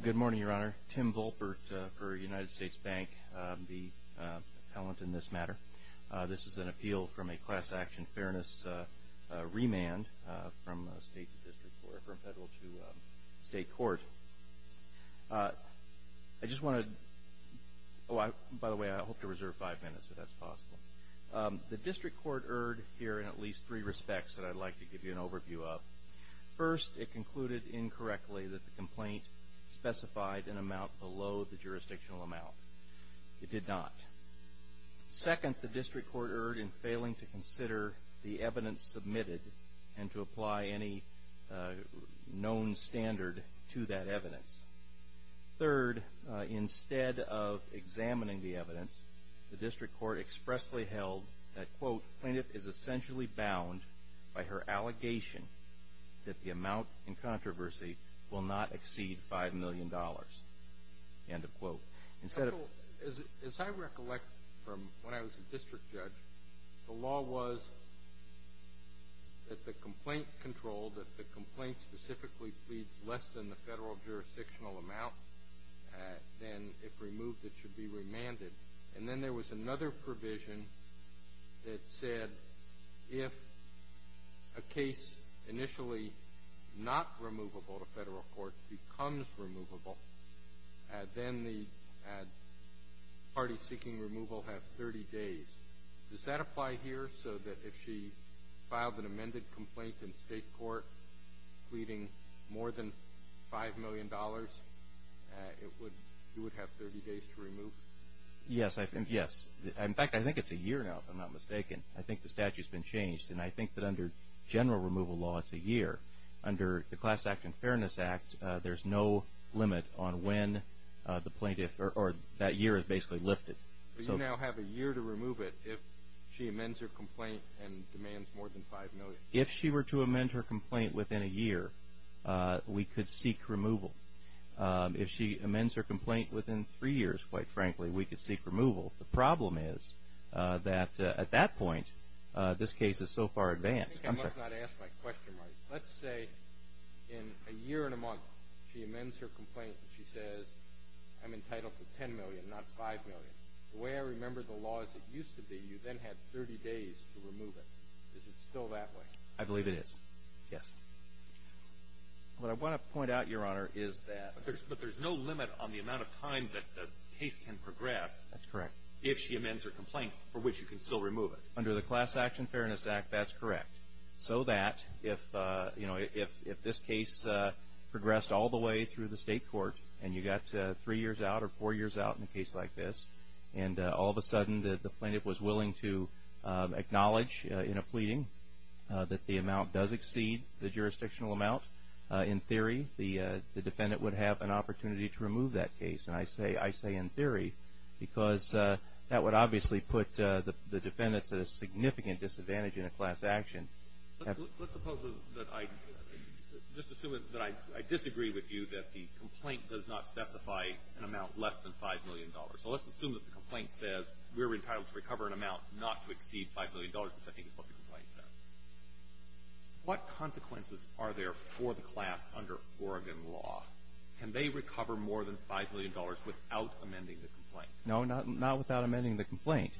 Good morning, Your Honor. Tim Volpert for United States Bank, the appellant in this matter. This is an appeal from a class action fairness remand from state to district court, from federal to state court. I just want to, by the way, I hope to reserve five minutes if that's possible. The district court erred here in at least three respects that I'd like to give you an overview of. First, it concluded incorrectly that the complaint specified an amount below the jurisdictional amount. It did not. Second, the district court erred in failing to consider the evidence submitted and to apply any known standard to that evidence. Third, instead of examining the evidence, the district court expressly held that, quote, plaintiff is essentially bound by her allegation that the amount in controversy will not exceed $5 million, end of quote. As I recollect from when I was a district judge, the law was that the complaint controlled, that the complaint specifically pleads less than the federal jurisdictional amount, and if removed, it should be remanded. And then there was another provision that said if a case initially not removable to federal court becomes removable, then the parties seeking removal have 30 days. Does that apply here so that if she filed an amended complaint in state court pleading more than $5 million, it would, you would have 30 days to remove? Yes, I think, yes. In fact, I think it's a year now, if I'm not mistaken. I think the statute's been changed, and I think that under general removal law, it's a year. Under the Class Act and Fairness Act, there's no limit on when the plaintiff, or that year is basically lifted. But you now have a year to remove it if she amends her complaint and demands more than $5 million. If she were to amend her complaint within a year, we could seek removal. If she amends her complaint within three years, quite frankly, we could seek removal. The problem is that at that point, this case is so far advanced. I think I must not ask my question right. Let's say in a year and a month she amends her complaint and she says, I'm entitled to $10 million, not $5 million. The way I remember the law as it used to be, you then had 30 days to remove it. Is it still that way? I believe it is, yes. What I want to point out, Your Honor, is that. But there's no limit on the amount of time that the case can progress. That's correct. If she amends her complaint, for which you can still remove it. Under the Class Act and Fairness Act, that's correct. So that if this case progressed all the way through the state court and you got three years out or four years out in a case like this, and all of a sudden the plaintiff was willing to acknowledge in a pleading that the amount does exceed the jurisdictional amount, in theory, the defendant would have an opportunity to remove that case. And I say in theory because that would obviously put the defendants at a significant disadvantage in a class action. Let's suppose that I just assume that I disagree with you that the complaint does not specify an amount less than $5 million. So let's assume that the complaint says we're entitled to recover an amount not to exceed $5 million, which I think is what the complaint says. What consequences are there for the class under Oregon law? Can they recover more than $5 million without amending the complaint? No, not without amending the complaint,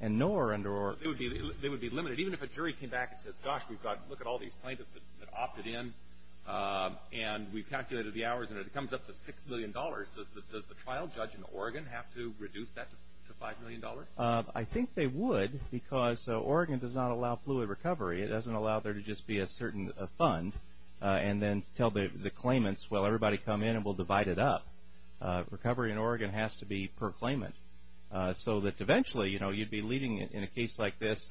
and nor under Oregon. They would be limited. Even if a jury came back and says, gosh, look at all these plaintiffs that opted in, and we calculated the hours, and it comes up to $6 million, does the trial judge in Oregon have to reduce that to $5 million? I think they would because Oregon does not allow fluid recovery. It doesn't allow there to just be a certain fund and then tell the claimants, well, everybody come in and we'll divide it up. Recovery in Oregon has to be per claimant so that eventually, you know, you'd be leading in a case like this.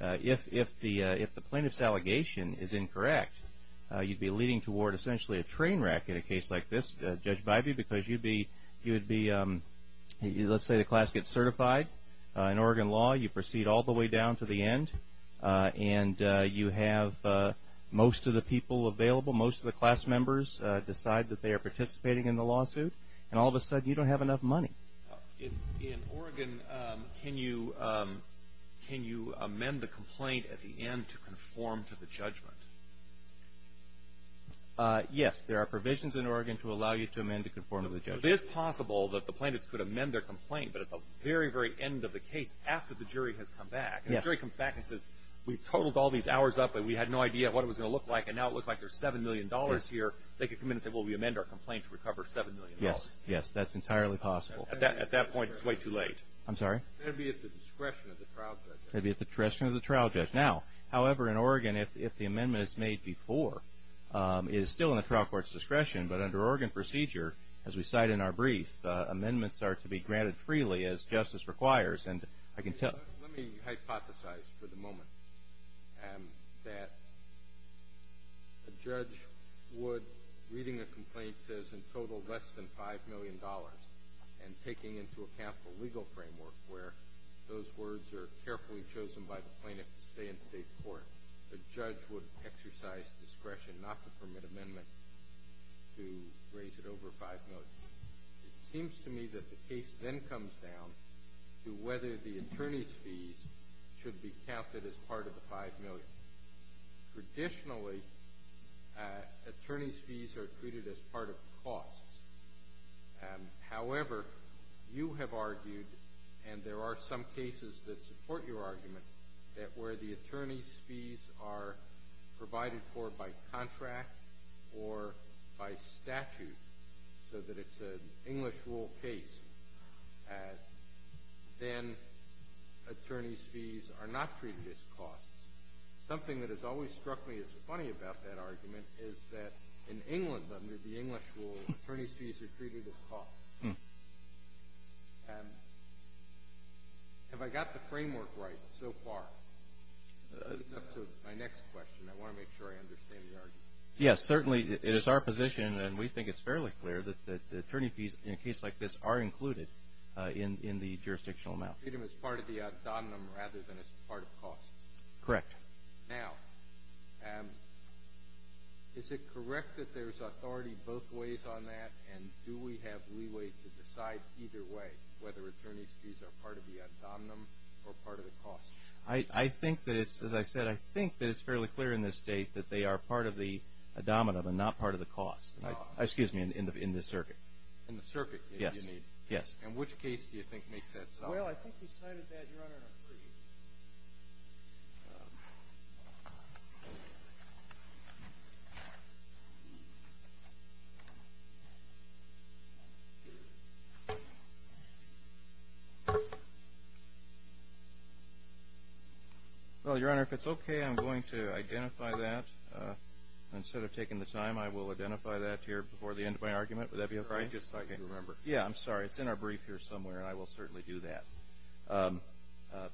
If the plaintiff's allegation is incorrect, you'd be leading toward essentially a train wreck in a case like this, Judge Bivey, because you'd be, let's say the class gets certified in Oregon law, you proceed all the way down to the end, and you have most of the people available, most of the class members decide that they are participating in the lawsuit, and all of a sudden you don't have enough money. In Oregon, can you amend the complaint at the end to conform to the judgment? Yes, there are provisions in Oregon to allow you to amend to conform to the judgment. It is possible that the plaintiffs could amend their complaint, but at the very, very end of the case, after the jury has come back, the jury comes back and says, we totaled all these hours up and we had no idea what it was going to look like, and now it looks like there's $7 million here. They could come in and say, well, we amend our complaint to recover $7 million. Yes, yes, that's entirely possible. At that point, it's way too late. I'm sorry? That would be at the discretion of the trial judge. That would be at the discretion of the trial judge. Now, however, in Oregon, if the amendment is made before, it is still in the trial court's discretion, but under Oregon procedure, as we cite in our brief, amendments are to be granted freely as justice requires, and I can tell you. Let me hypothesize for the moment that a judge would, reading a complaint that says, in total, less than $5 million, and taking into account the legal framework, where those words are carefully chosen by the plaintiff to stay in state court, a judge would exercise discretion not to permit amendment to raise it over $5 million. It seems to me that the case then comes down to whether the attorney's fees should be counted as part of the $5 million. Traditionally, attorney's fees are treated as part of costs. However, you have argued, and there are some cases that support your argument, that where the attorney's fees are provided for by contract or by statute so that it's an English rule case, then attorney's fees are not treated as costs. Something that has always struck me as funny about that argument is that in England, under the English rule, attorney's fees are treated as costs. Have I got the framework right so far? That's up to my next question. I want to make sure I understand the argument. Yes, certainly it is our position, and we think it's fairly clear, that attorney's fees in a case like this are included in the jurisdictional amount. They're treated as part of the ad hominem rather than as part of costs. Correct. Now, is it correct that there's authority both ways on that, and do we have leeway to decide either way whether attorney's fees are part of the ad hominem or part of the costs? I think that it's, as I said, I think that it's fairly clear in this state that they are part of the ad hominem and not part of the costs. Excuse me, in the circuit. In the circuit, you mean? Yes. In which case do you think makes that sense? Well, I think we cited that in our brief. Well, Your Honor, if it's okay, I'm going to identify that. Instead of taking the time, I will identify that here before the end of my argument. Would that be okay? Just so I can remember. Yeah, I'm sorry. It's in our brief here somewhere, and I will certainly do that.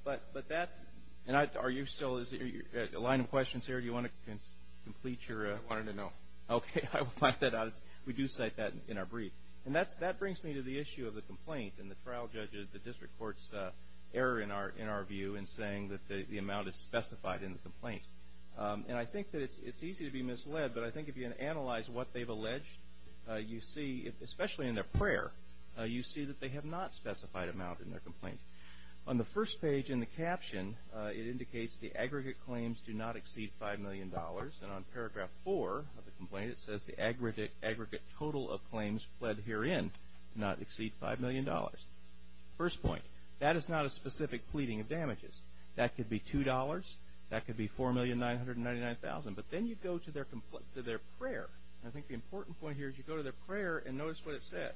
But that, and are you still, is there a line of questions here? Do you want to complete your? I wanted to know. Okay. I will find that out. We do cite that in our brief. And that brings me to the issue of the complaint and the trial judge, the district court's error in our view in saying that the amount is specified in the complaint. And I think that it's easy to be misled, but I think if you analyze what they've alleged, you see, especially in their prayer, you see that they have not specified amount in their complaint. On the first page in the caption, it indicates the aggregate claims do not exceed $5 million. And on paragraph four of the complaint, it says the aggregate total of claims pled herein do not exceed $5 million. First point, that is not a specific pleading of damages. That could be $2. That could be $4,999,000. But then you go to their prayer. And I think the important point here is you go to their prayer and notice what it says.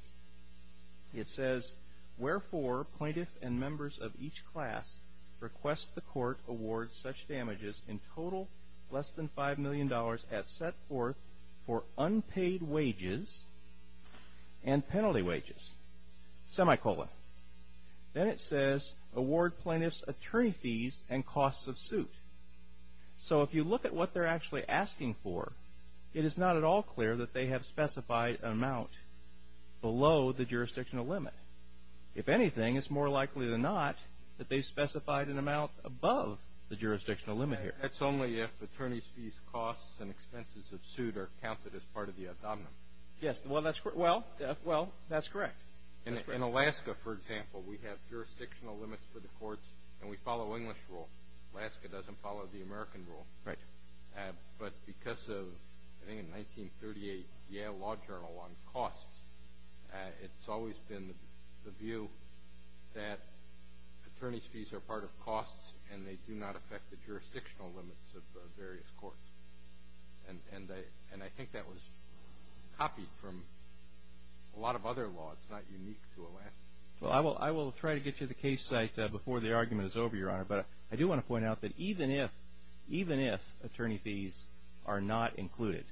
It says, wherefore, plaintiffs and members of each class request the court award such damages in total less than $5 million as set forth for unpaid wages and penalty wages, semicolon. Then it says, award plaintiffs attorney fees and costs of suit. So if you look at what they're actually asking for, it is not at all clear that they have specified an amount below the jurisdictional limit. If anything, it's more likely than not that they specified an amount above the jurisdictional limit here. That's only if attorney's fees, costs, and expenses of suit are counted as part of the abdomen. Yes, well, that's correct. In Alaska, for example, we have jurisdictional limits for the courts, and we follow English rule. Alaska doesn't follow the American rule. Right. But because of, I think in 1938, Yale Law Journal on costs, it's always been the view that attorney's fees are part of costs and they do not affect the jurisdictional limits of various courts. And I think that was copied from a lot of other laws. It's not unique to Alaska. Well, I will try to get you the case site before the argument is over, Your Honor. But I do want to point out that even if attorney fees are not included,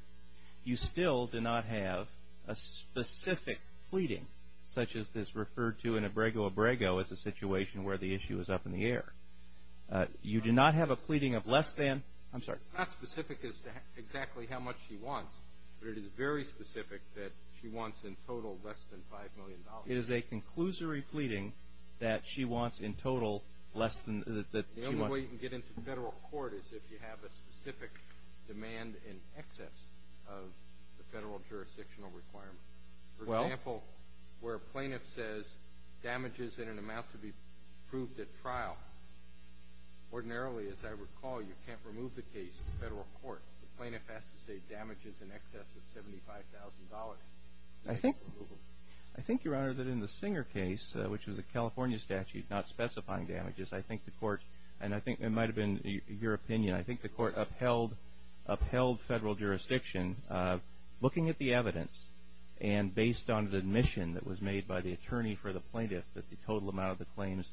you still do not have a specific pleading, such as is referred to in Abrego-Abrego as a situation where the issue is up in the air. You do not have a pleading of less than, I'm sorry. Not specific as to exactly how much she wants, but it is very specific that she wants in total less than $5 million. It is a conclusory pleading that she wants in total less than that she wants. The only way you can get into federal court is if you have a specific demand in excess of the federal jurisdictional requirement. Well. For example, where a plaintiff says damages in an amount to be proved at trial. Ordinarily, as I recall, you can't remove the case from federal court. The plaintiff has to say damages in excess of $75,000. I think, Your Honor, that in the Singer case, which was a California statute not specifying damages, I think the court, and I think it might have been your opinion, I think the court upheld federal jurisdiction looking at the evidence and based on the admission that was made by the attorney for the plaintiff that the total amount of the claims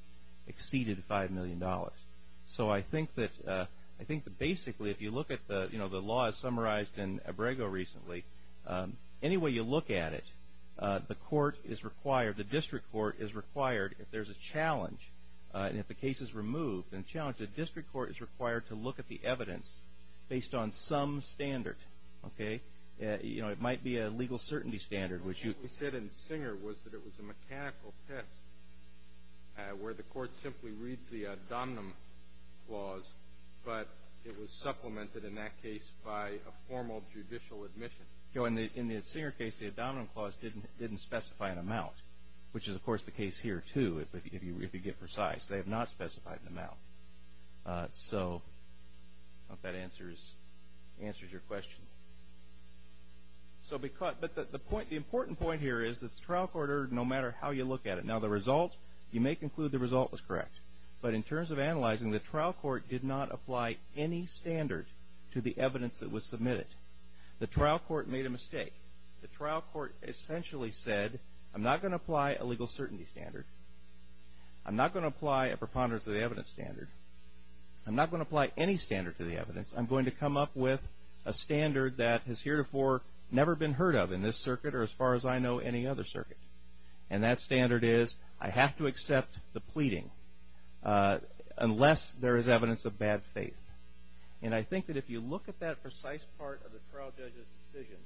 exceeded $5 million. So I think that basically if you look at the laws summarized in Abrego recently, any way you look at it, the court is required, the district court is required if there's a challenge and if the case is removed and challenged, the district court is required to look at the evidence based on some standard. It might be a legal certainty standard. What you said in Singer was that it was a mechanical test where the court simply reads the dominant clause, but it was supplemented in that case by a formal judicial admission. In the Singer case, the dominant clause didn't specify an amount, which is, of course, the case here, too, if you get precise. They have not specified an amount. So I hope that answers your question. But the important point here is that the trial court erred no matter how you look at it. Now, the result, you may conclude the result was correct, but in terms of analyzing, the trial court did not apply any standard to the evidence that was submitted. The trial court made a mistake. The trial court essentially said, I'm not going to apply a legal certainty standard. I'm not going to apply a preponderance of the evidence standard. I'm not going to apply any standard to the evidence. I'm going to come up with a standard that has heretofore never been heard of in this circuit or as far as I know any other circuit. And that standard is, I have to accept the pleading unless there is evidence of bad faith. And I think that if you look at that precise part of the trial judge's decision,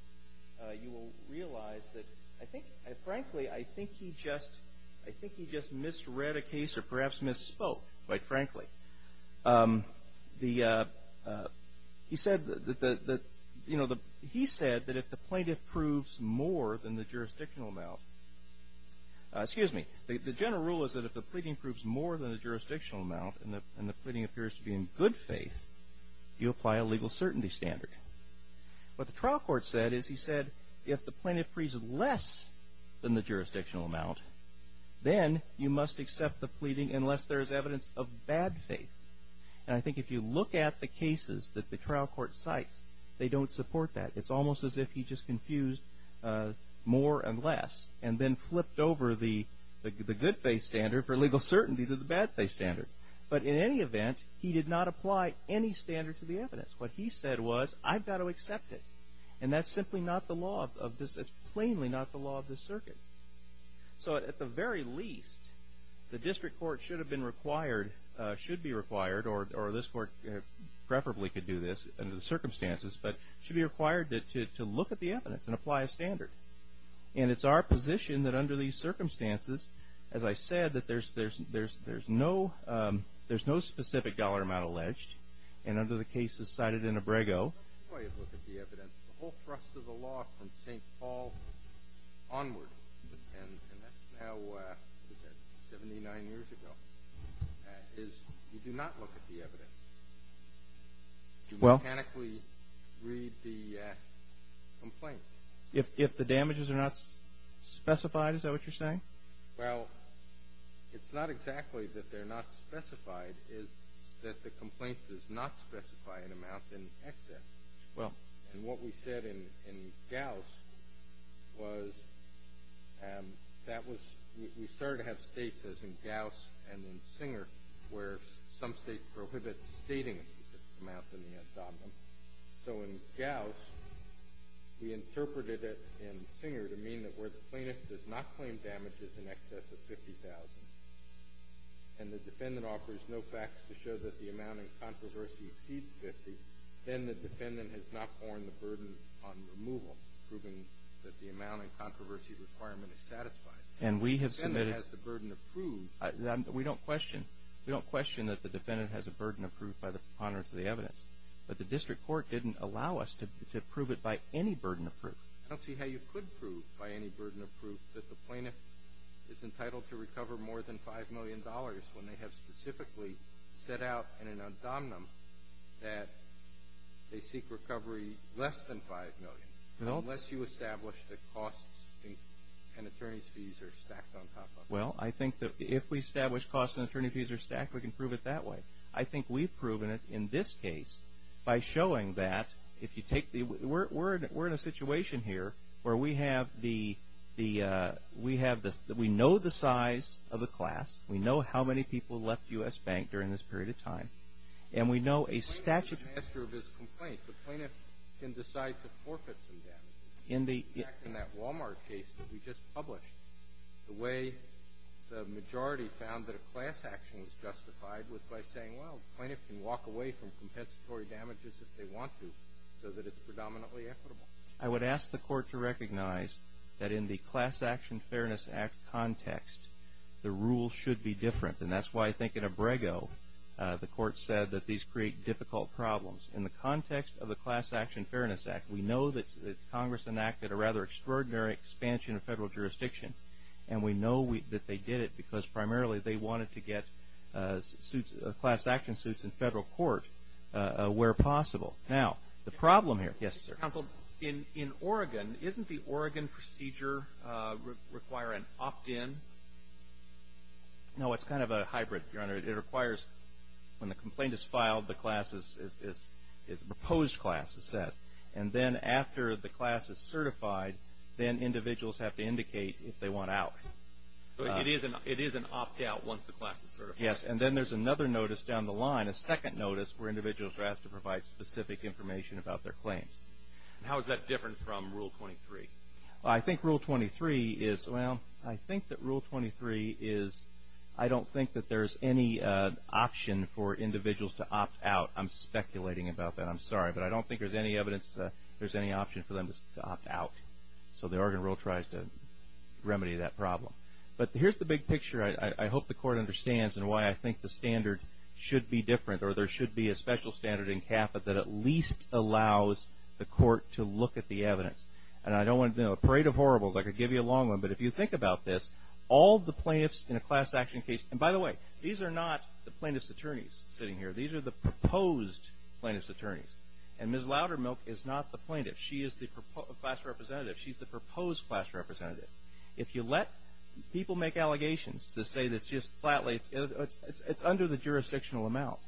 you will realize that I think, frankly, I think he just misread a case or perhaps misspoke, quite frankly. He said that, you know, he said that if the plaintiff proves more than the jurisdictional amount, excuse me, the general rule is that if the pleading proves more than the jurisdictional amount and the pleading appears to be in good faith, you apply a legal certainty standard. What the trial court said is he said, if the plaintiff proves less than the jurisdictional amount, then you must accept the pleading unless there is evidence of bad faith. And I think if you look at the cases that the trial court cites, they don't support that. It's almost as if he just confused more and less and then flipped over the good faith standard for legal certainty to the bad faith standard. But in any event, he did not apply any standard to the evidence. What he said was, I've got to accept it. And that's simply not the law of this. It's plainly not the law of this circuit. So at the very least, the district court should have been required, should be required, or this court preferably could do this under the circumstances, but should be required to look at the evidence and apply a standard. And it's our position that under these circumstances, as I said, that there's no specific dollar amount alleged, and under the cases cited in Abrego. The way you look at the evidence, the whole thrust of the law from St. Paul onward, and that's now, what is that, 79 years ago, is you do not look at the evidence. You mechanically read the complaint. If the damages are not specified, is that what you're saying? Well, it's not exactly that they're not specified. What is specified is that the complaint does not specify an amount in excess. Well. And what we said in Gauss was that was, we started to have states, as in Gauss and in Singer, where some states prohibit stating an amount in the abdomen. So in Gauss, we interpreted it in Singer to mean that where the plaintiff does not claim damages in excess of $50,000 and the defendant offers no facts to show that the amount in controversy exceeds $50,000, then the defendant has not borne the burden on removal, proving that the amount in controversy requirement is satisfied. And we have submitted. If the defendant has the burden approved. We don't question. We don't question that the defendant has a burden approved by the ponderance of the evidence. But the district court didn't allow us to prove it by any burden approved. I don't see how you could prove by any burden approved that the plaintiff is entitled to recover more than $5 million when they have specifically set out in an abdomen that they seek recovery less than $5 million. No. Unless you establish that costs and attorney's fees are stacked on top of it. Well, I think that if we establish costs and attorney's fees are stacked, we can prove it that way. I think we've proven it in this case by showing that if you take the – we're in a situation here where we have the – we know the size of the class. We know how many people left U.S. Bank during this period of time. And we know a statute – The plaintiff is the master of his complaint. The plaintiff can decide to forfeit some damages. In fact, in that Walmart case that we just published, the way the majority found that a class action was justified was by saying, well, the plaintiff can walk away from compensatory damages if they want to so that it's predominantly equitable. I would ask the court to recognize that in the Class Action Fairness Act context, the rules should be different. And that's why I think in Abrego the court said that these create difficult problems. In the context of the Class Action Fairness Act, we know that Congress enacted a rather extraordinary expansion of federal jurisdiction. And we know that they did it because primarily they wanted to get suits – class action suits in federal court where possible. Now, the problem here – yes, sir. Counsel, in Oregon, isn't the Oregon procedure require an opt-in? It requires – when the complaint is filed, the class is – the proposed class is set. And then after the class is certified, then individuals have to indicate if they want out. So it is an opt-out once the class is certified. Yes, and then there's another notice down the line, a second notice, where individuals are asked to provide specific information about their claims. How is that different from Rule 23? Well, I think Rule 23 is – well, I think that Rule 23 is – I don't think that there's any option for individuals to opt out. I'm speculating about that. I'm sorry. But I don't think there's any evidence that there's any option for them to opt out. So the Oregon rule tries to remedy that problem. But here's the big picture I hope the court understands and why I think the standard should be different or there should be a special standard in CAFA that at least allows the court to look at the evidence. And I don't want a parade of horribles. I could give you a long one. But if you think about this, all the plaintiffs in a class action case – and by the way, these are not the plaintiff's attorneys sitting here. These are the proposed plaintiff's attorneys. And Ms. Loudermilk is not the plaintiff. She is the class representative. She's the proposed class representative. If you let people make allegations to say that just flatly it's under the jurisdictional amount,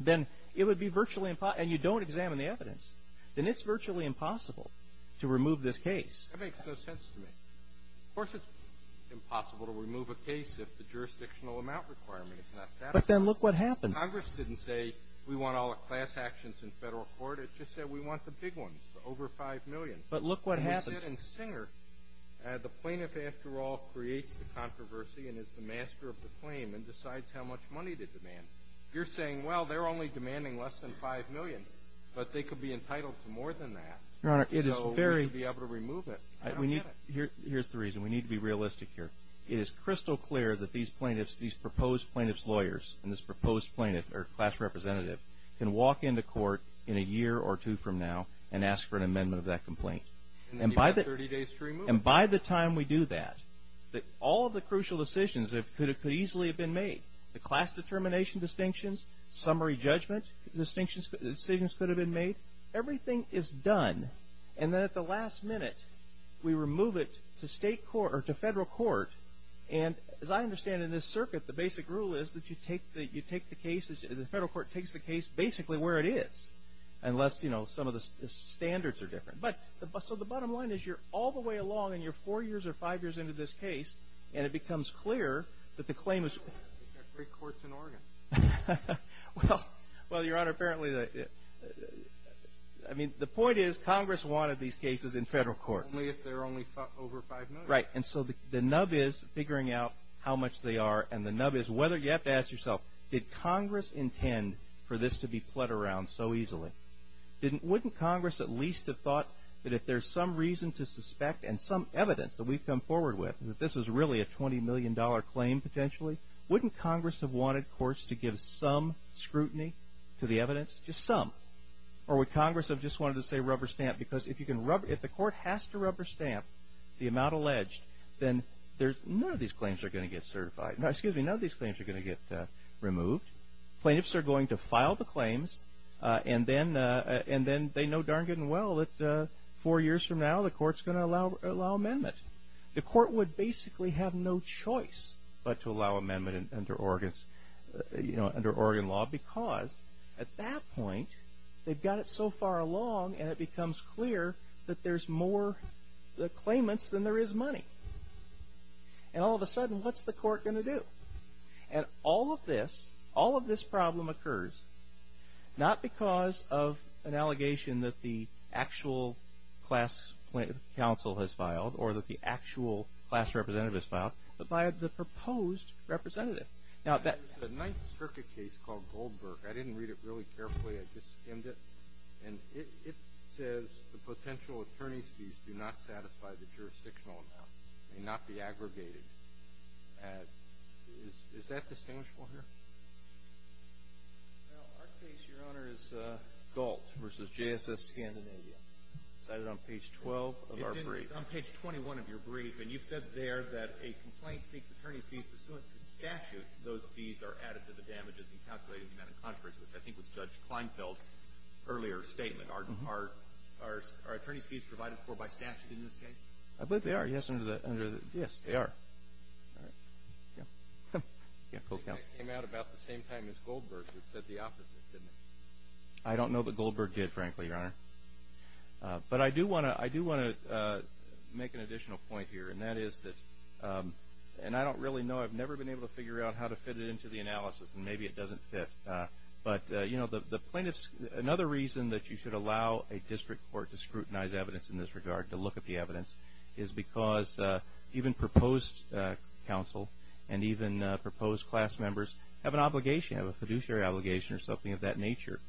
then it would be virtually impossible – and you don't examine the evidence. Then it's virtually impossible to remove this case. That makes no sense to me. Of course, it's impossible to remove a case if the jurisdictional amount requirement is not satisfied. But then look what happens. Congress didn't say we want all the class actions in Federal court. It just said we want the big ones, the over 5 million. But look what happens. And we said in Singer the plaintiff, after all, creates the controversy and is the master of the claim and decides how much money to demand. You're saying, well, they're only demanding less than 5 million, but they could be entitled to more than that. So we should be able to remove it. Here's the reason. We need to be realistic here. It is crystal clear that these proposed plaintiff's lawyers and this proposed class representative can walk into court in a year or two from now and ask for an amendment of that complaint. And then you've got 30 days to remove it. And by the time we do that, all of the crucial decisions could easily have been made. The class determination distinctions, summary judgment decisions could have been made. Everything is done. And then at the last minute, we remove it to state court or to Federal court. And as I understand in this circuit, the basic rule is that you take the case, the Federal court takes the case basically where it is unless, you know, some of the standards are different. But so the bottom line is you're all the way along and you're four years or five years into this case and it becomes clear that the claim is. We've got three courts in Oregon. Well, Your Honor, apparently, I mean, the point is Congress wanted these cases in Federal court. Only if they're only over five million. Right. And so the nub is figuring out how much they are. And the nub is whether you have to ask yourself, did Congress intend for this to be put around so easily? Wouldn't Congress at least have thought that if there's some reason to suspect and some evidence that we've come forward with, that this is really a $20 million claim potentially. Wouldn't Congress have wanted courts to give some scrutiny to the evidence? Just some. Or would Congress have just wanted to say rubber stamp? Because if you can rub, if the court has to rubber stamp the amount alleged, then there's none of these claims are going to get certified. Now, excuse me, none of these claims are going to get removed. Plaintiffs are going to file the claims. And then they know darn good and well that four years from now the court's going to allow amendment. The court would basically have no choice but to allow amendment under Oregon law because at that point they've got it so far along and it becomes clear that there's more claimants than there is money. And all of a sudden, what's the court going to do? And all of this, all of this problem occurs not because of an allegation that the actual class council has filed or that the actual class representative has filed, but by the proposed representative. Now, the Ninth Circuit case called Goldberg, I didn't read it really carefully, I just skimmed it, and it says the potential attorney's fees do not satisfy the jurisdictional amount. They may not be aggregated. Is that distinguishable here? Well, our case, Your Honor, is Galt v. JSS Scandinavia. It's cited on page 12 of our brief. It's on page 21 of your brief. And you've said there that a complaint seeks attorney's fees pursuant to statute. Those fees are added to the damages in calculating the amount of controversy, which I think was Judge Kleinfeld's earlier statement. Are attorney's fees provided for by statute in this case? I believe they are. Yes, they are. All right. Yeah. Yeah, cool. It came out about the same time as Goldberg. It said the opposite, didn't it? I don't know that Goldberg did, frankly, Your Honor. But I do want to make an additional point here, and that is that, and I don't really know. I've never been able to figure out how to fit it into the analysis, and maybe it doesn't fit. But, you know, the plaintiffs, another reason that you should allow a district court to scrutinize evidence in this regard, to look at the evidence, is because even proposed counsel and even proposed class members have an obligation, a fiduciary obligation or something of that nature,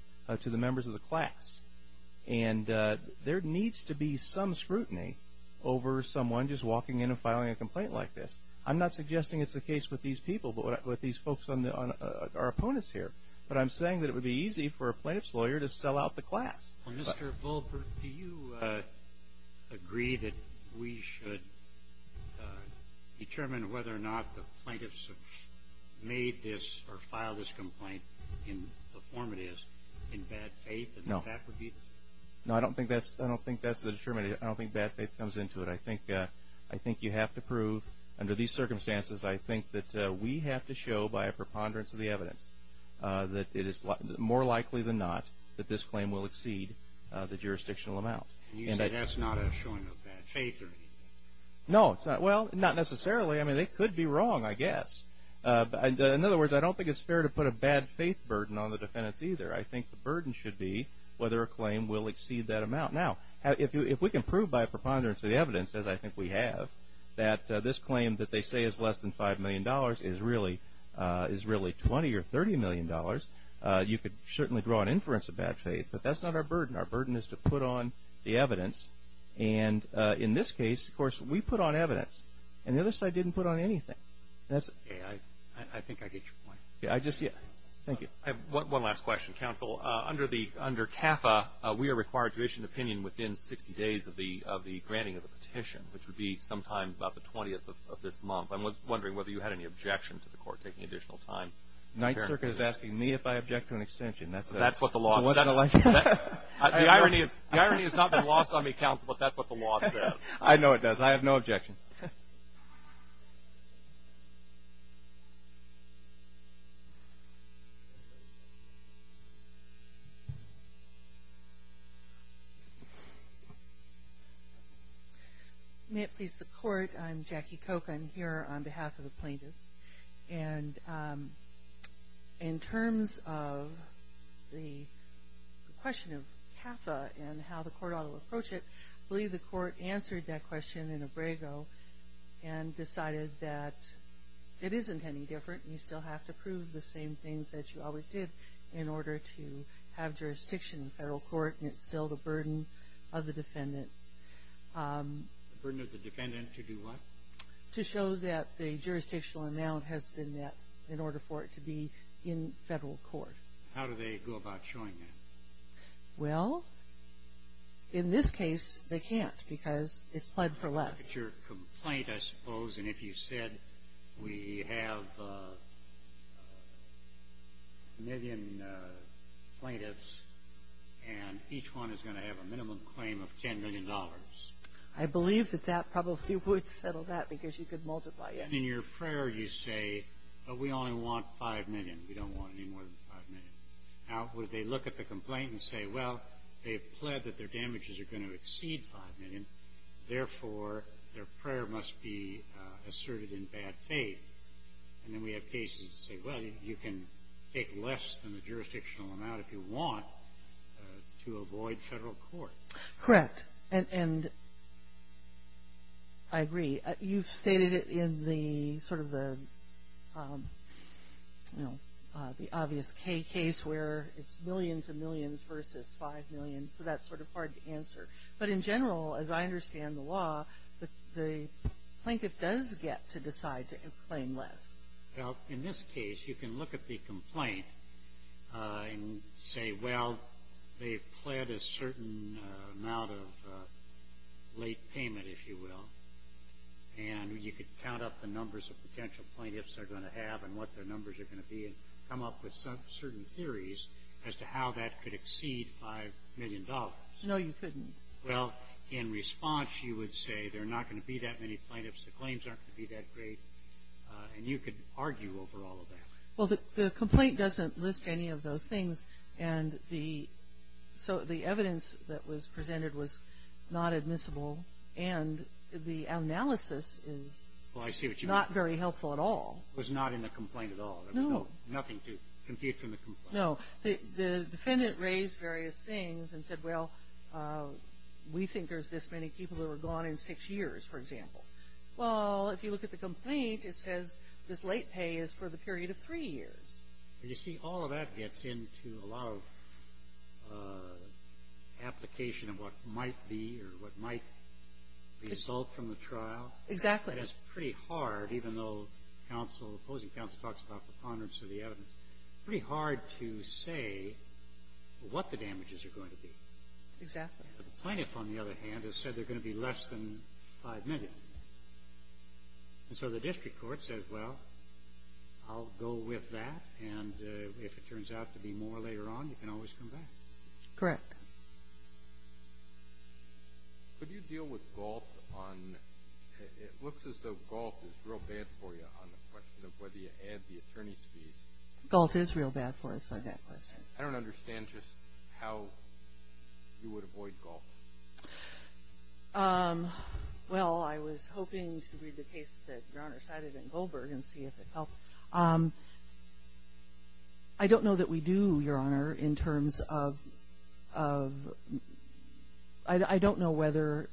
to the members of the class. And there needs to be some scrutiny over someone just walking in and filing a complaint like this. I'm not suggesting it's the case with these people, but with these folks on our opponents here. But I'm saying that it would be easy for a plaintiff's lawyer to sell out the class. Well, Mr. Goldberg, do you agree that we should determine whether or not the plaintiffs have made this or filed this complaint in the form it is, in bad faith, and that that would be the case? No. No, I don't think that's the determination. I don't think bad faith comes into it. I think you have to prove, under these circumstances, I think that we have to show by a preponderance of the evidence that it is more likely than not that this claim will exceed the jurisdictional amount. And you say that's not a showing of bad faith or anything? No, it's not. Well, not necessarily. I mean, they could be wrong, I guess. In other words, I don't think it's fair to put a bad faith burden on the defendants either. I think the burden should be whether a claim will exceed that amount. Now, if we can prove by a preponderance of the evidence, as I think we have, that this claim that they say is less than $5 million is really $20 or $30 million, you could certainly draw an inference of bad faith. But that's not our burden. Our burden is to put on the evidence. And in this case, of course, we put on evidence, and the other side didn't put on anything. I think I get your point. Yeah, I just get it. Thank you. One last question, counsel. Under CAFA, we are required to issue an opinion within 60 days of the granting of the petition, which would be sometime about the 20th of this month. I'm wondering whether you had any objection to the court taking additional time. The Ninth Circuit is asking me if I object to an extension. That's what the law says. The irony has not been lost on me, counsel, but that's what the law says. I know it does. But I have no objection. May it please the court, I'm Jackie Koch. I'm here on behalf of the plaintiffs. And in terms of the question of CAFA and how the court ought to approach it, I believe the court answered that question in Abrego and decided that it isn't any different. You still have to prove the same things that you always did in order to have jurisdiction in federal court, and it's still the burden of the defendant. The burden of the defendant to do what? To show that the jurisdictional amount has been met in order for it to be in federal court. How do they go about showing that? Well, in this case, they can't because it's pled for less. But your complaint, I suppose, and if you said we have a million plaintiffs and each one is going to have a minimum claim of $10 million. I believe that that probably would settle that because you could multiply it. In your prayer, you say, we only want 5 million. We don't want any more than 5 million. Now, would they look at the complaint and say, well, they have pled that their damages are going to exceed 5 million, therefore their prayer must be asserted in bad faith. And then we have cases that say, well, you can take less than the jurisdictional amount if you want to avoid federal court. Correct. And I agree. You've stated it in the sort of the, you know, the obvious case where it's millions and millions versus 5 million. So that's sort of hard to answer. But in general, as I understand the law, the plaintiff does get to decide to claim less. Well, in this case, you can look at the complaint and say, well, they've pled a certain amount of late payment, if you will. And you could count up the numbers of potential plaintiffs they're going to have and what their numbers are going to be and come up with certain theories as to how that could exceed $5 million. No, you couldn't. Well, in response, you would say there are not going to be that many plaintiffs. The claims aren't going to be that great. And you could argue over all of that. Well, the complaint doesn't list any of those things. And so the evidence that was presented was not admissible. And the analysis is not very helpful at all. It was not in the complaint at all. There was nothing to compute from the complaint. No. The defendant raised various things and said, well, we think there's this many people that were gone in six years, for example. Well, if you look at the complaint, it says this late pay is for the period of three years. You see, all of that gets into a lot of application of what might be or what might result from the trial. Exactly. And it's pretty hard, even though counsel, opposing counsel talks about the ponderance of the evidence, pretty hard to say what the damages are going to be. Exactly. The plaintiff, on the other hand, has said there are going to be less than 5 million. And so the district court says, well, I'll go with that. And if it turns out to be more later on, you can always come back. Correct. Could you deal with Galt on the question of whether you add the attorney's fees? Galt is real bad for us on that question. I don't understand just how you would avoid Galt. Well, I was hoping to read the case that Your Honor cited in Goldberg and see if it helped. I don't know that we do, Your Honor, in terms of – I don't know whether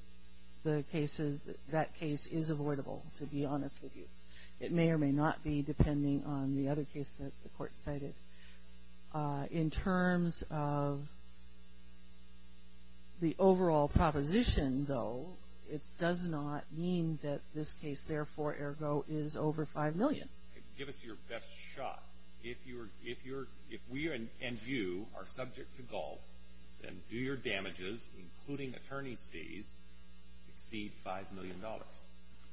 the cases – that case is avoidable, to be honest with you. It may or may not be, depending on the other case that the court cited. In terms of the overall proposition, though, it does not mean that this case, therefore, ergo, is over 5 million. Give us your best shot. If we and you are subject to Galt, then do your damages, including attorney's fees, exceed $5 million?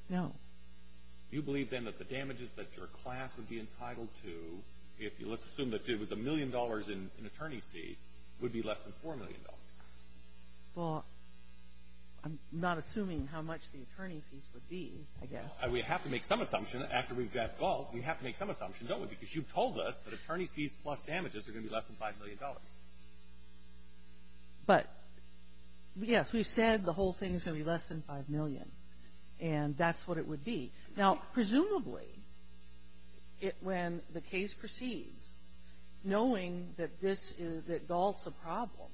No. Do you believe, then, that the damages that your class would be entitled to, if let's assume that it was $1 million in attorney's fees, would be less than $4 million? Well, I'm not assuming how much the attorney's fees would be, I guess. We have to make some assumption after we've got Galt. We have to make some assumption, don't we? Because you've told us that attorney's fees plus damages are going to be less than $5 million. But, yes, we've said the whole thing is going to be less than 5 million. And that's what it would be. Now, presumably, it – when the case proceeds, knowing that this is – that Galt's a problem,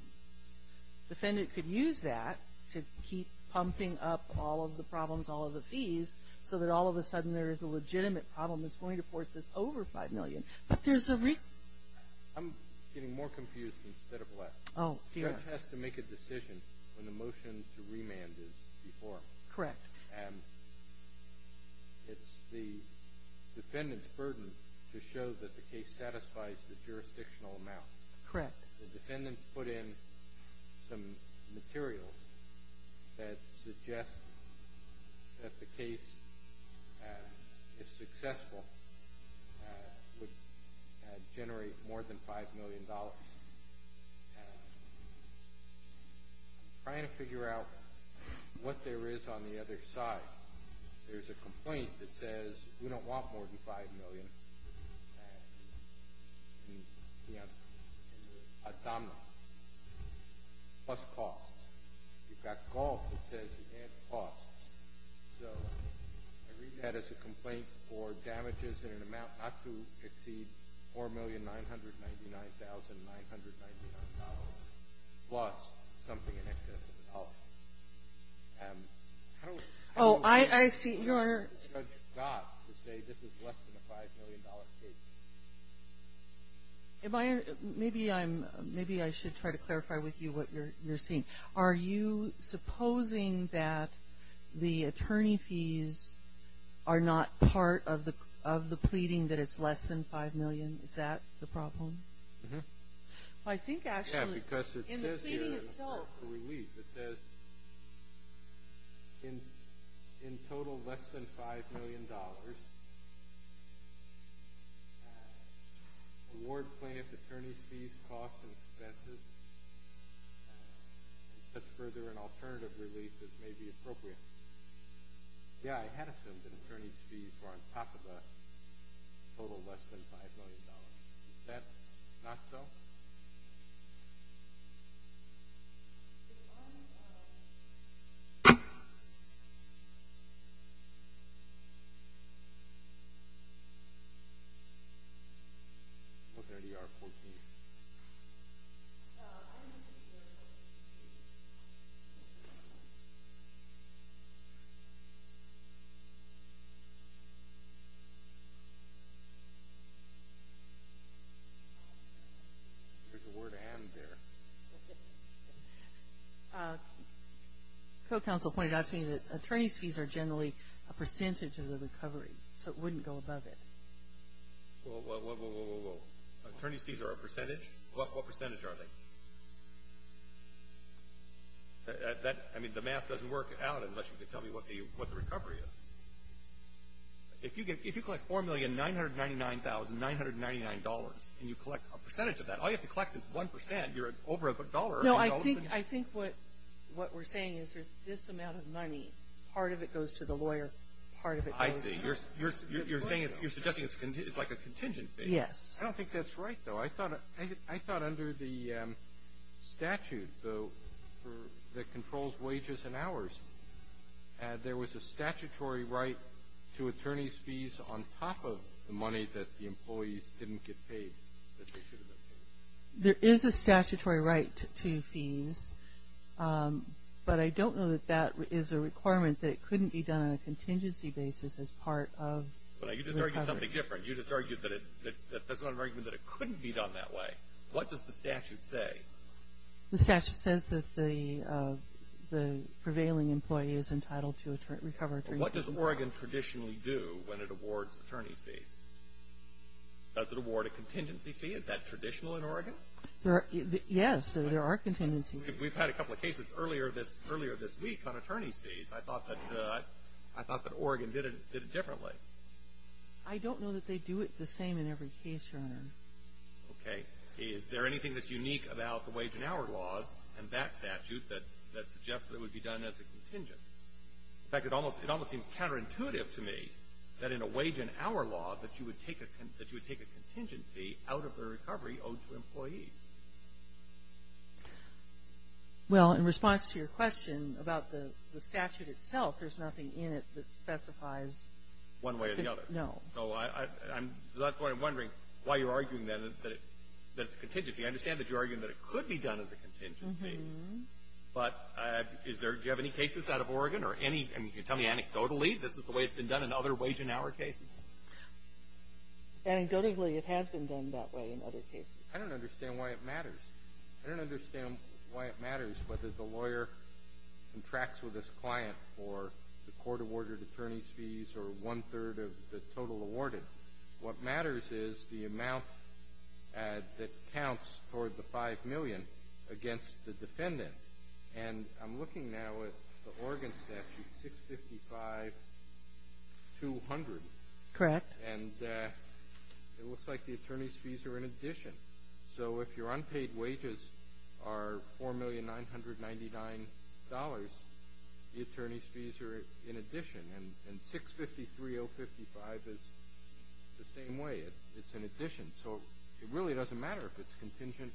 the defendant could use that to keep pumping up all of the problems, all of the fees, so that all of a sudden there is a legitimate problem that's going to force this over 5 million. But there's a reason. I'm getting more confused instead of less. Oh, dear. The judge has to make a decision when the motion to remand is before him. Correct. And it's the defendant's burden to show that the case satisfies the jurisdictional amount. Correct. The defendant put in some materials that suggest that the case, if successful, would generate more than $5 million. I'm trying to figure out what there is on the other side. There's a complaint that says we don't want more than 5 million in the abdominal plus costs. You've got Galt that says he can't cost. So I read that as a complaint for damages in an amount not to exceed $4,999,999 plus something in excess of a dollar. How do we – Oh, I see. How do we get Judge Galt to say this is less than a $5 million case? Am I – maybe I'm – maybe I should try to clarify with you what you're seeing. Are you supposing that the attorney fees are not part of the pleading that it's less than 5 million? Is that the problem? Mm-hmm. Well, I think actually in the pleading itself – Yeah, because it says here in the relief, it says, in total less than $5 million, award plaintiff attorney's fees, costs, and expenses, and such further and alternative relief as may be appropriate. Yeah, I had assumed that attorney's fees were on top of the total less than $5 million. Is that not so? No. If I – I'm looking at ER 14. I didn't see the word attorney's fees. There's a word and there. A co-counsel pointed out to me that attorney's fees are generally a percentage of the recovery, so it wouldn't go above it. Whoa, whoa, whoa, whoa, whoa, whoa. Attorney's fees are a percentage? What percentage are they? I mean, the math doesn't work out unless you can tell me what the recovery is. If you collect $4,999,999 and you collect a percentage of that, all you have to collect is 1%. You're over a dollar. No, I think what we're saying is there's this amount of money. Part of it goes to the lawyer. Part of it goes – It's like a contingent fee. Yes. I don't think that's right, though. I thought under the statute, though, that controls wages and hours, there was a statutory right to attorney's fees on top of the money that the employees didn't get paid. There is a statutory right to fees, but I don't know that that is a requirement that it couldn't be done on a contingency basis as part of recovery. You just argued something different. You just argued that it – that's not an argument that it couldn't be done that way. What does the statute say? The statute says that the prevailing employee is entitled to recover attorney's fees. What does Oregon traditionally do when it awards attorney's fees? Does it award a contingency fee? Is that traditional in Oregon? Yes, there are contingency fees. We've had a couple of cases earlier this week on attorney's fees. I thought that – I thought that Oregon did it differently. I don't know that they do it the same in every case, Your Honor. Okay. Is there anything that's unique about the wage and hour laws and that statute that suggests that it would be done as a contingent? In fact, it almost seems counterintuitive to me that in a wage and hour law that you would take a – that you would take a contingent fee out of the recovery owed to employees. Well, in response to your question about the statute itself, there's nothing in it that specifies one way or the other. No. So I'm – so that's why I'm wondering why you're arguing that it – that it's contingent. I understand that you're arguing that it could be done as a contingent fee. Mm-hmm. But is there – do you have any cases out of Oregon or any – I mean, can you tell me anecdotally this is the way it's been done in other wage and hour cases? Anecdotally, it has been done that way in other cases. I don't understand why it matters. I don't understand why it matters whether the lawyer contracts with his client for the court-awarded attorney's fees or one-third of the total awarded. What matters is the amount that counts toward the $5 million against the defendant. And I'm looking now at the Oregon statute, 655-200. Correct. And it looks like the attorney's fees are in addition. So if your unpaid wages are $4,999,000, the attorney's fees are in addition. And 653-055 is the same way. It's in addition. So it really doesn't matter if it's contingent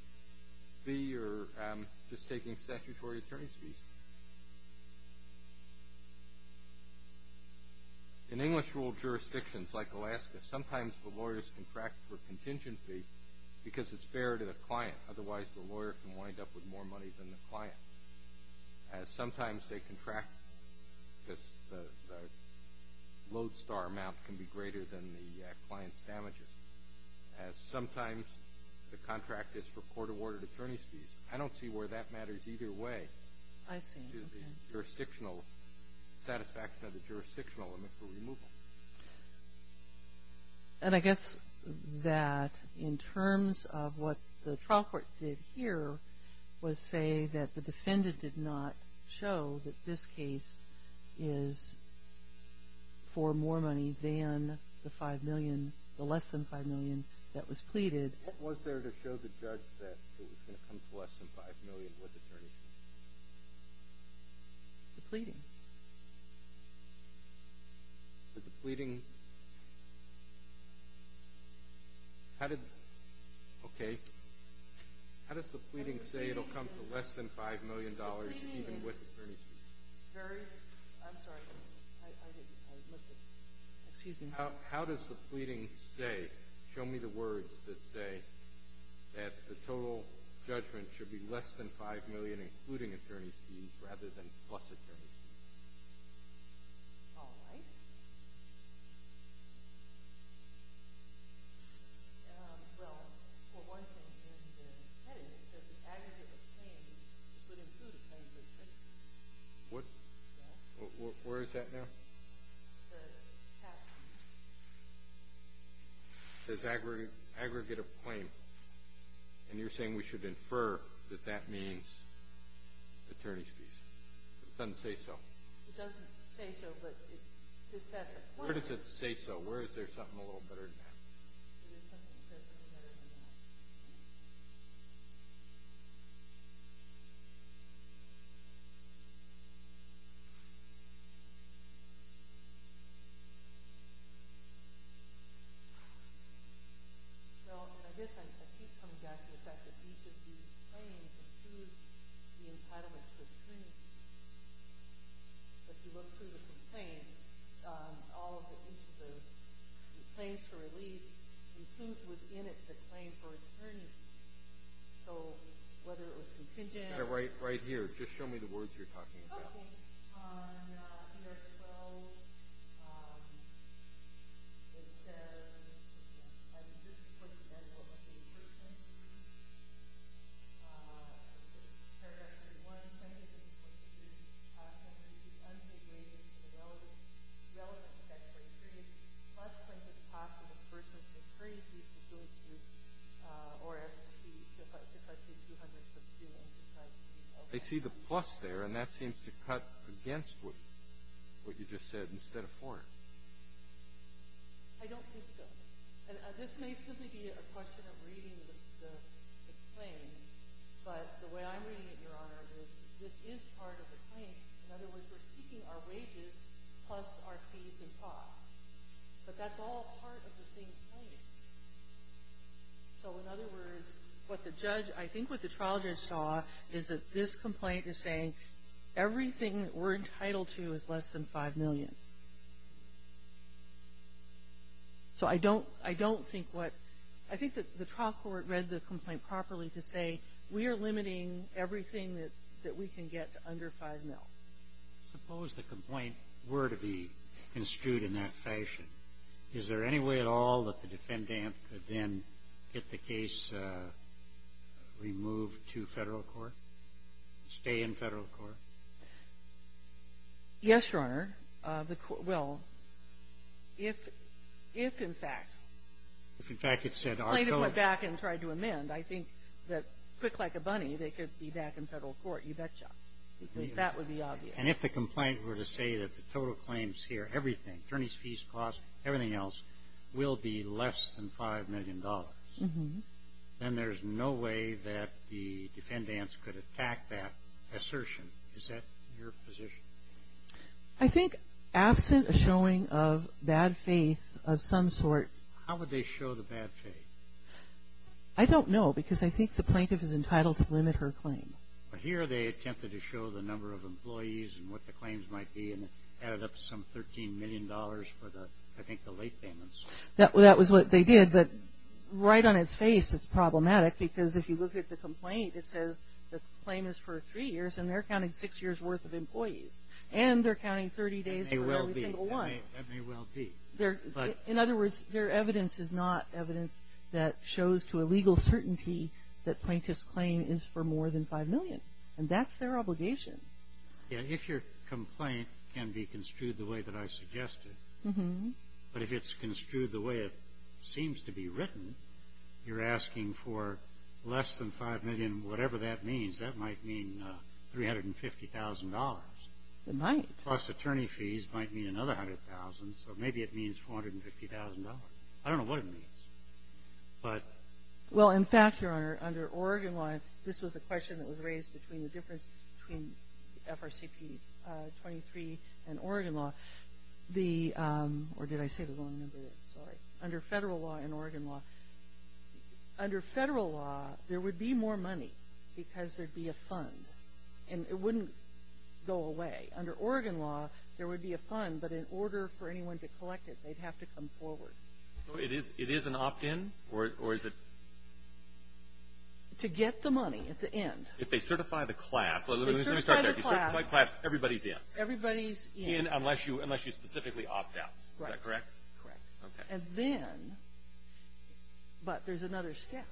fee or just taking statutory attorney's fees. In English-ruled jurisdictions like Alaska, sometimes the lawyers contract for contingent fee because it's fair to the client. Otherwise, the lawyer can wind up with more money than the client. Sometimes they contract because the load star amount can be greater than the client's damages. Sometimes the contract is for court-awarded attorney's fees. I don't see where that matters either way. I see. It's the jurisdictional satisfaction of the jurisdictional limit for removal. And I guess that in terms of what the trial court did here was say that the defendant did not show that this case is for more money than the $5 million, the less than $5 million that was pleaded. Was there to show the judge that it was going to come to less than $5 million with attorney's fees? The pleading. The pleading? How did – okay. How does the pleading say it will come to less than $5 million even with attorney's fees? Very – I'm sorry. I didn't – I was listening. Excuse me. How does the pleading say, show me the words that say that the total judgment should be less than $5 million including attorney's fees rather than plus attorney's fees? All right. Well, for one thing, in the heading it says the aggregate of claims would include attorney's fees. What? Yes. Where is that now? The cap. It says aggregate of claim, and you're saying we should infer that that means attorney's fees. It doesn't say so. It doesn't say so, but it says – Where does it say so? Where is there something a little better than that? It is something. It says something better than that. Well, and I guess I keep coming back to the fact that each of these claims includes the entitlement to a claim. But if you look through the complaint, all of the – each of the claims for relief includes within it the claim for attorney's fees. So whether it was contingent – Right here. Just show me the words you're talking about. Okay. On ER-12, it says – I mean, this is for the entitlement of a person. Paragraph 31, plaintiff is supposed to use the contract to issue unpaid wages for the relevant statutory period. Plus plaintiff's cost of this person's decree is due to or is due to suffice it to 200 subpoenas. I see the plus there, and that seems to cut against what you just said instead of for it. I don't think so. And this may simply be a question of reading the claim, but the way I'm reading it, Your Honor, is this is part of the claim. In other words, we're seeking our wages plus our fees and costs. But that's all part of the same claim. So in other words, what the judge – I think what the trial judge saw is that this complaint is saying everything that we're entitled to is less than 5 million. So I don't – I don't think what – I think that the trial court read the complaint properly to say we are limiting everything that we can get to under 5 mil. Suppose the complaint were to be construed in that fashion. Is there any way at all that the defendant could then get the case removed to federal court? Stay in federal court? Yes, Your Honor. The – well, if – if, in fact, the plaintiff went back and tried to amend, I think that quick like a bunny they could be back in federal court. You betcha. Because that would be obvious. And if the complaint were to say that the total claims here, everything, attorneys' fees, costs, everything else, will be less than 5 million dollars, then there's no way that the defendants could attack that assertion. Is that your position? I think absent a showing of bad faith of some sort. How would they show the bad faith? I don't know because I think the plaintiff is entitled to limit her claim. But here they attempted to show the number of employees and what the claims might be and added up some 13 million dollars for the, I think, the late payments. That was what they did, but right on its face it's problematic because if you look at the complaint it says the claim is for three years and they're counting six years' worth of employees. And they're counting 30 days for every single one. That may well be. In other words, their evidence is not evidence that shows to a legal certainty that plaintiff's claim is for more than 5 million. And that's their obligation. If your complaint can be construed the way that I suggested, but if it's construed the way it seems to be written, you're asking for less than 5 million, whatever that means. That might mean 350,000 dollars. It might. Plus attorney fees might mean another 100,000, so maybe it means 450,000 dollars. I don't know what it means. Well, in fact, Your Honor, under Oregon law, this was a question that was raised between the difference between FRCP 23 and Oregon law. The, or did I say the wrong number? Sorry. Under federal law and Oregon law, under federal law there would be more money because there'd be a fund and it wouldn't go away. Under Oregon law there would be a fund, but in order for anyone to collect it they'd have to come forward. It is an opt-in or is it? To get the money at the end. If they certify the class. If they certify the class. Let me start there. If they certify the class, everybody's in. Everybody's in. Unless you specifically opt out. Right. Is that correct? Correct. Okay. And then, but there's another step.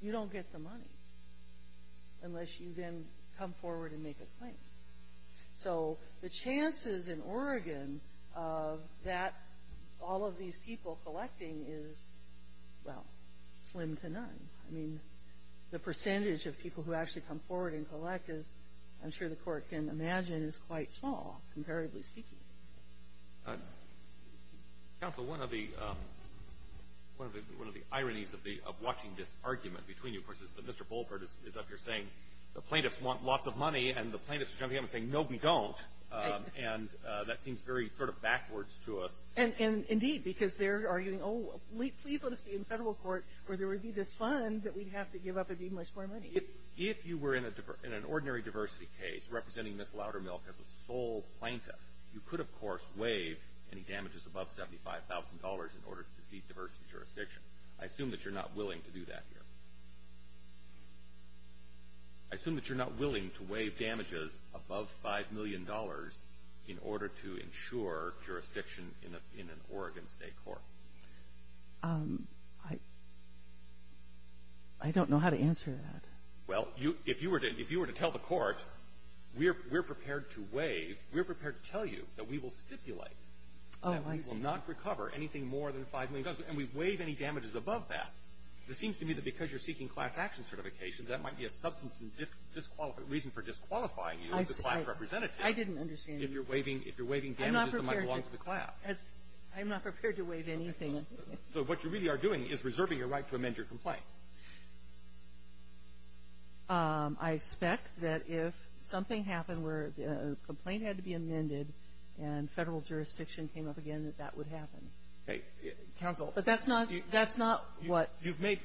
You don't get the money unless you then come forward and make a claim. So the chances in Oregon of that, all of these people collecting is, well, slim to none. I mean, the percentage of people who actually come forward and collect is, I'm sure the Court can imagine, is quite small, comparatively speaking. Counsel, one of the ironies of watching this argument between you, of course, is that Mr. Bolpert is up here saying the plaintiffs want lots of money, and the plaintiffs are jumping up and saying, no, we don't. And that seems very sort of backwards to us. Indeed, because they're arguing, oh, please let us be in federal court where there would be this fund that we'd have to give up and be much more money. If you were in an ordinary diversity case, representing Ms. Loudermilk as a sole plaintiff, you could, of course, waive any damages above $75,000 in order to defeat diversity jurisdiction. I assume that you're not willing to do that here. I assume that you're not willing to waive damages above $5 million in order to ensure jurisdiction in an Oregon State court. I don't know how to answer that. Well, if you were to tell the Court, we're prepared to waive, we're prepared to tell you that we will stipulate that we will not recover anything more than $5 million. And we waive any damages above that. It seems to me that because you're seeking class action certification, that might be a substantive reason for disqualifying you as a class representative. I didn't understand. If you're waiving damages that might belong to the class. I'm not prepared to waive anything. So what you really are doing is reserving your right to amend your complaint. I expect that if something happened where a complaint had to be amended and federal jurisdiction came up again, that that would happen. Okay. Counsel. But that's not what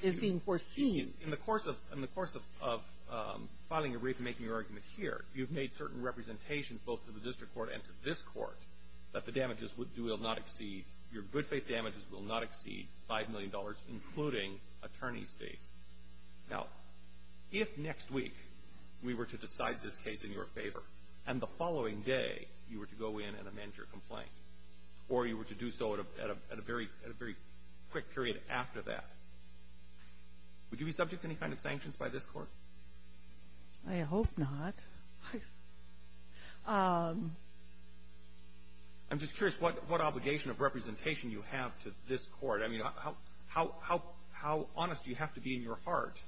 is being foreseen. In the course of filing a brief and making your argument here, you've made certain representations both to the district court and to this court that the damages will not exceed, your good-faith damages will not exceed $5 million, including attorney's fees. Now, if next week we were to decide this case in your favor, and the following day you were to go in and amend your complaint, or you were to do so at a very quick period after that, would you be subject to any kind of sanctions by this court? I hope not. I'm just curious what obligation of representation you have to this court. I mean, how honest do you have to be in your heart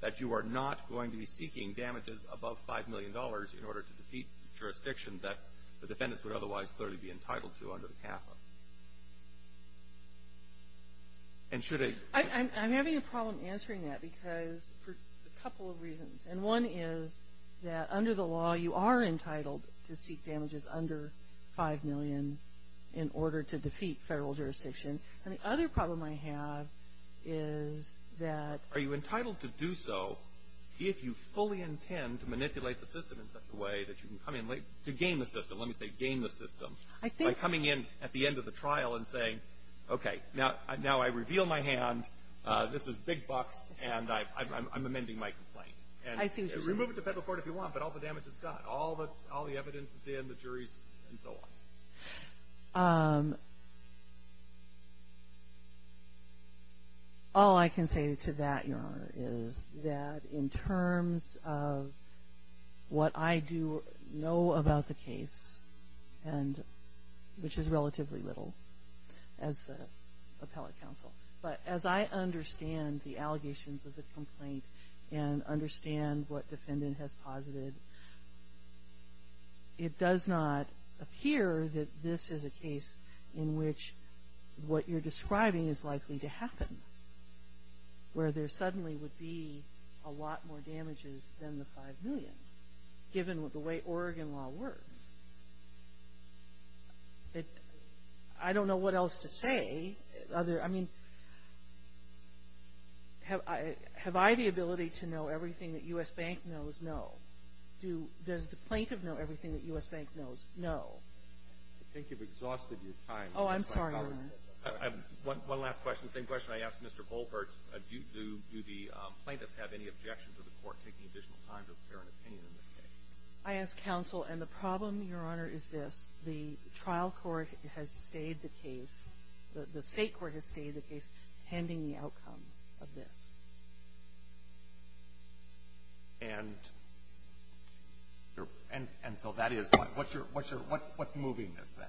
that you are not going to be seeking damages above $5 million in order to defeat jurisdiction that the defendants would otherwise clearly be entitled to under the CAFA? And should a ---- I'm having a problem answering that because for a couple of reasons. And one is that under the law, you are entitled to seek damages under $5 million in order to defeat federal jurisdiction. And the other problem I have is that ---- in such a way that you can come in late to game the system. Let me say game the system. I think ---- By coming in at the end of the trial and saying, okay, now I reveal my hand, this is big bucks, and I'm amending my complaint. And remove it to federal court if you want, but all the damage is gone. All the evidence is in, the jury's, and so on. All I can say to that, Your Honor, is that in terms of what I do know about the case, and which is relatively little as the appellate counsel, but as I understand the allegations of the complaint and understand what defendant has posited, it does not appear that this is a case in which what you're describing is likely to happen, where there suddenly would be a lot more damages than the $5 million, given the way Oregon law works. I don't know what else to say. I mean, have I the ability to know everything that U.S. Bank knows? No. Does the plaintiff know everything that U.S. Bank knows? No. I think you've exhausted your time. Oh, I'm sorry, Your Honor. One last question. Same question I asked Mr. Goldberg. Do the plaintiffs have any objection to the court taking additional time to prepare an opinion in this case? I ask counsel, and the problem, Your Honor, is this. The trial court has stayed the case, the state court has stayed the case, pending the outcome of this. And so that is, what's moving this, then?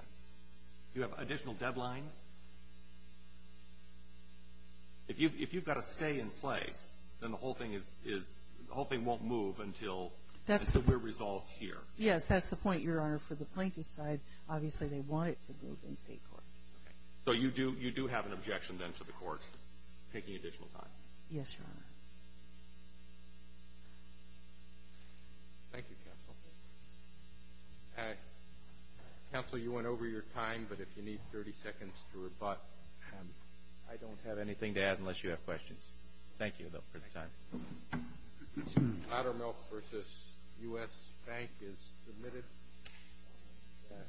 Do you have additional deadlines? If you've got to stay in place, then the whole thing won't move until we're resolved here. Yes, that's the point, Your Honor. For the plaintiff's side, obviously they want it to move in state court. Okay. So you do have an objection, then, to the court taking additional time? Yes, Your Honor. Thank you, counsel. Counsel, you went over your time, but if you need 30 seconds to rebut, I don't have anything to add unless you have questions. Thank you, though, for the time. Loudermilk v. U.S. Bank is submitted.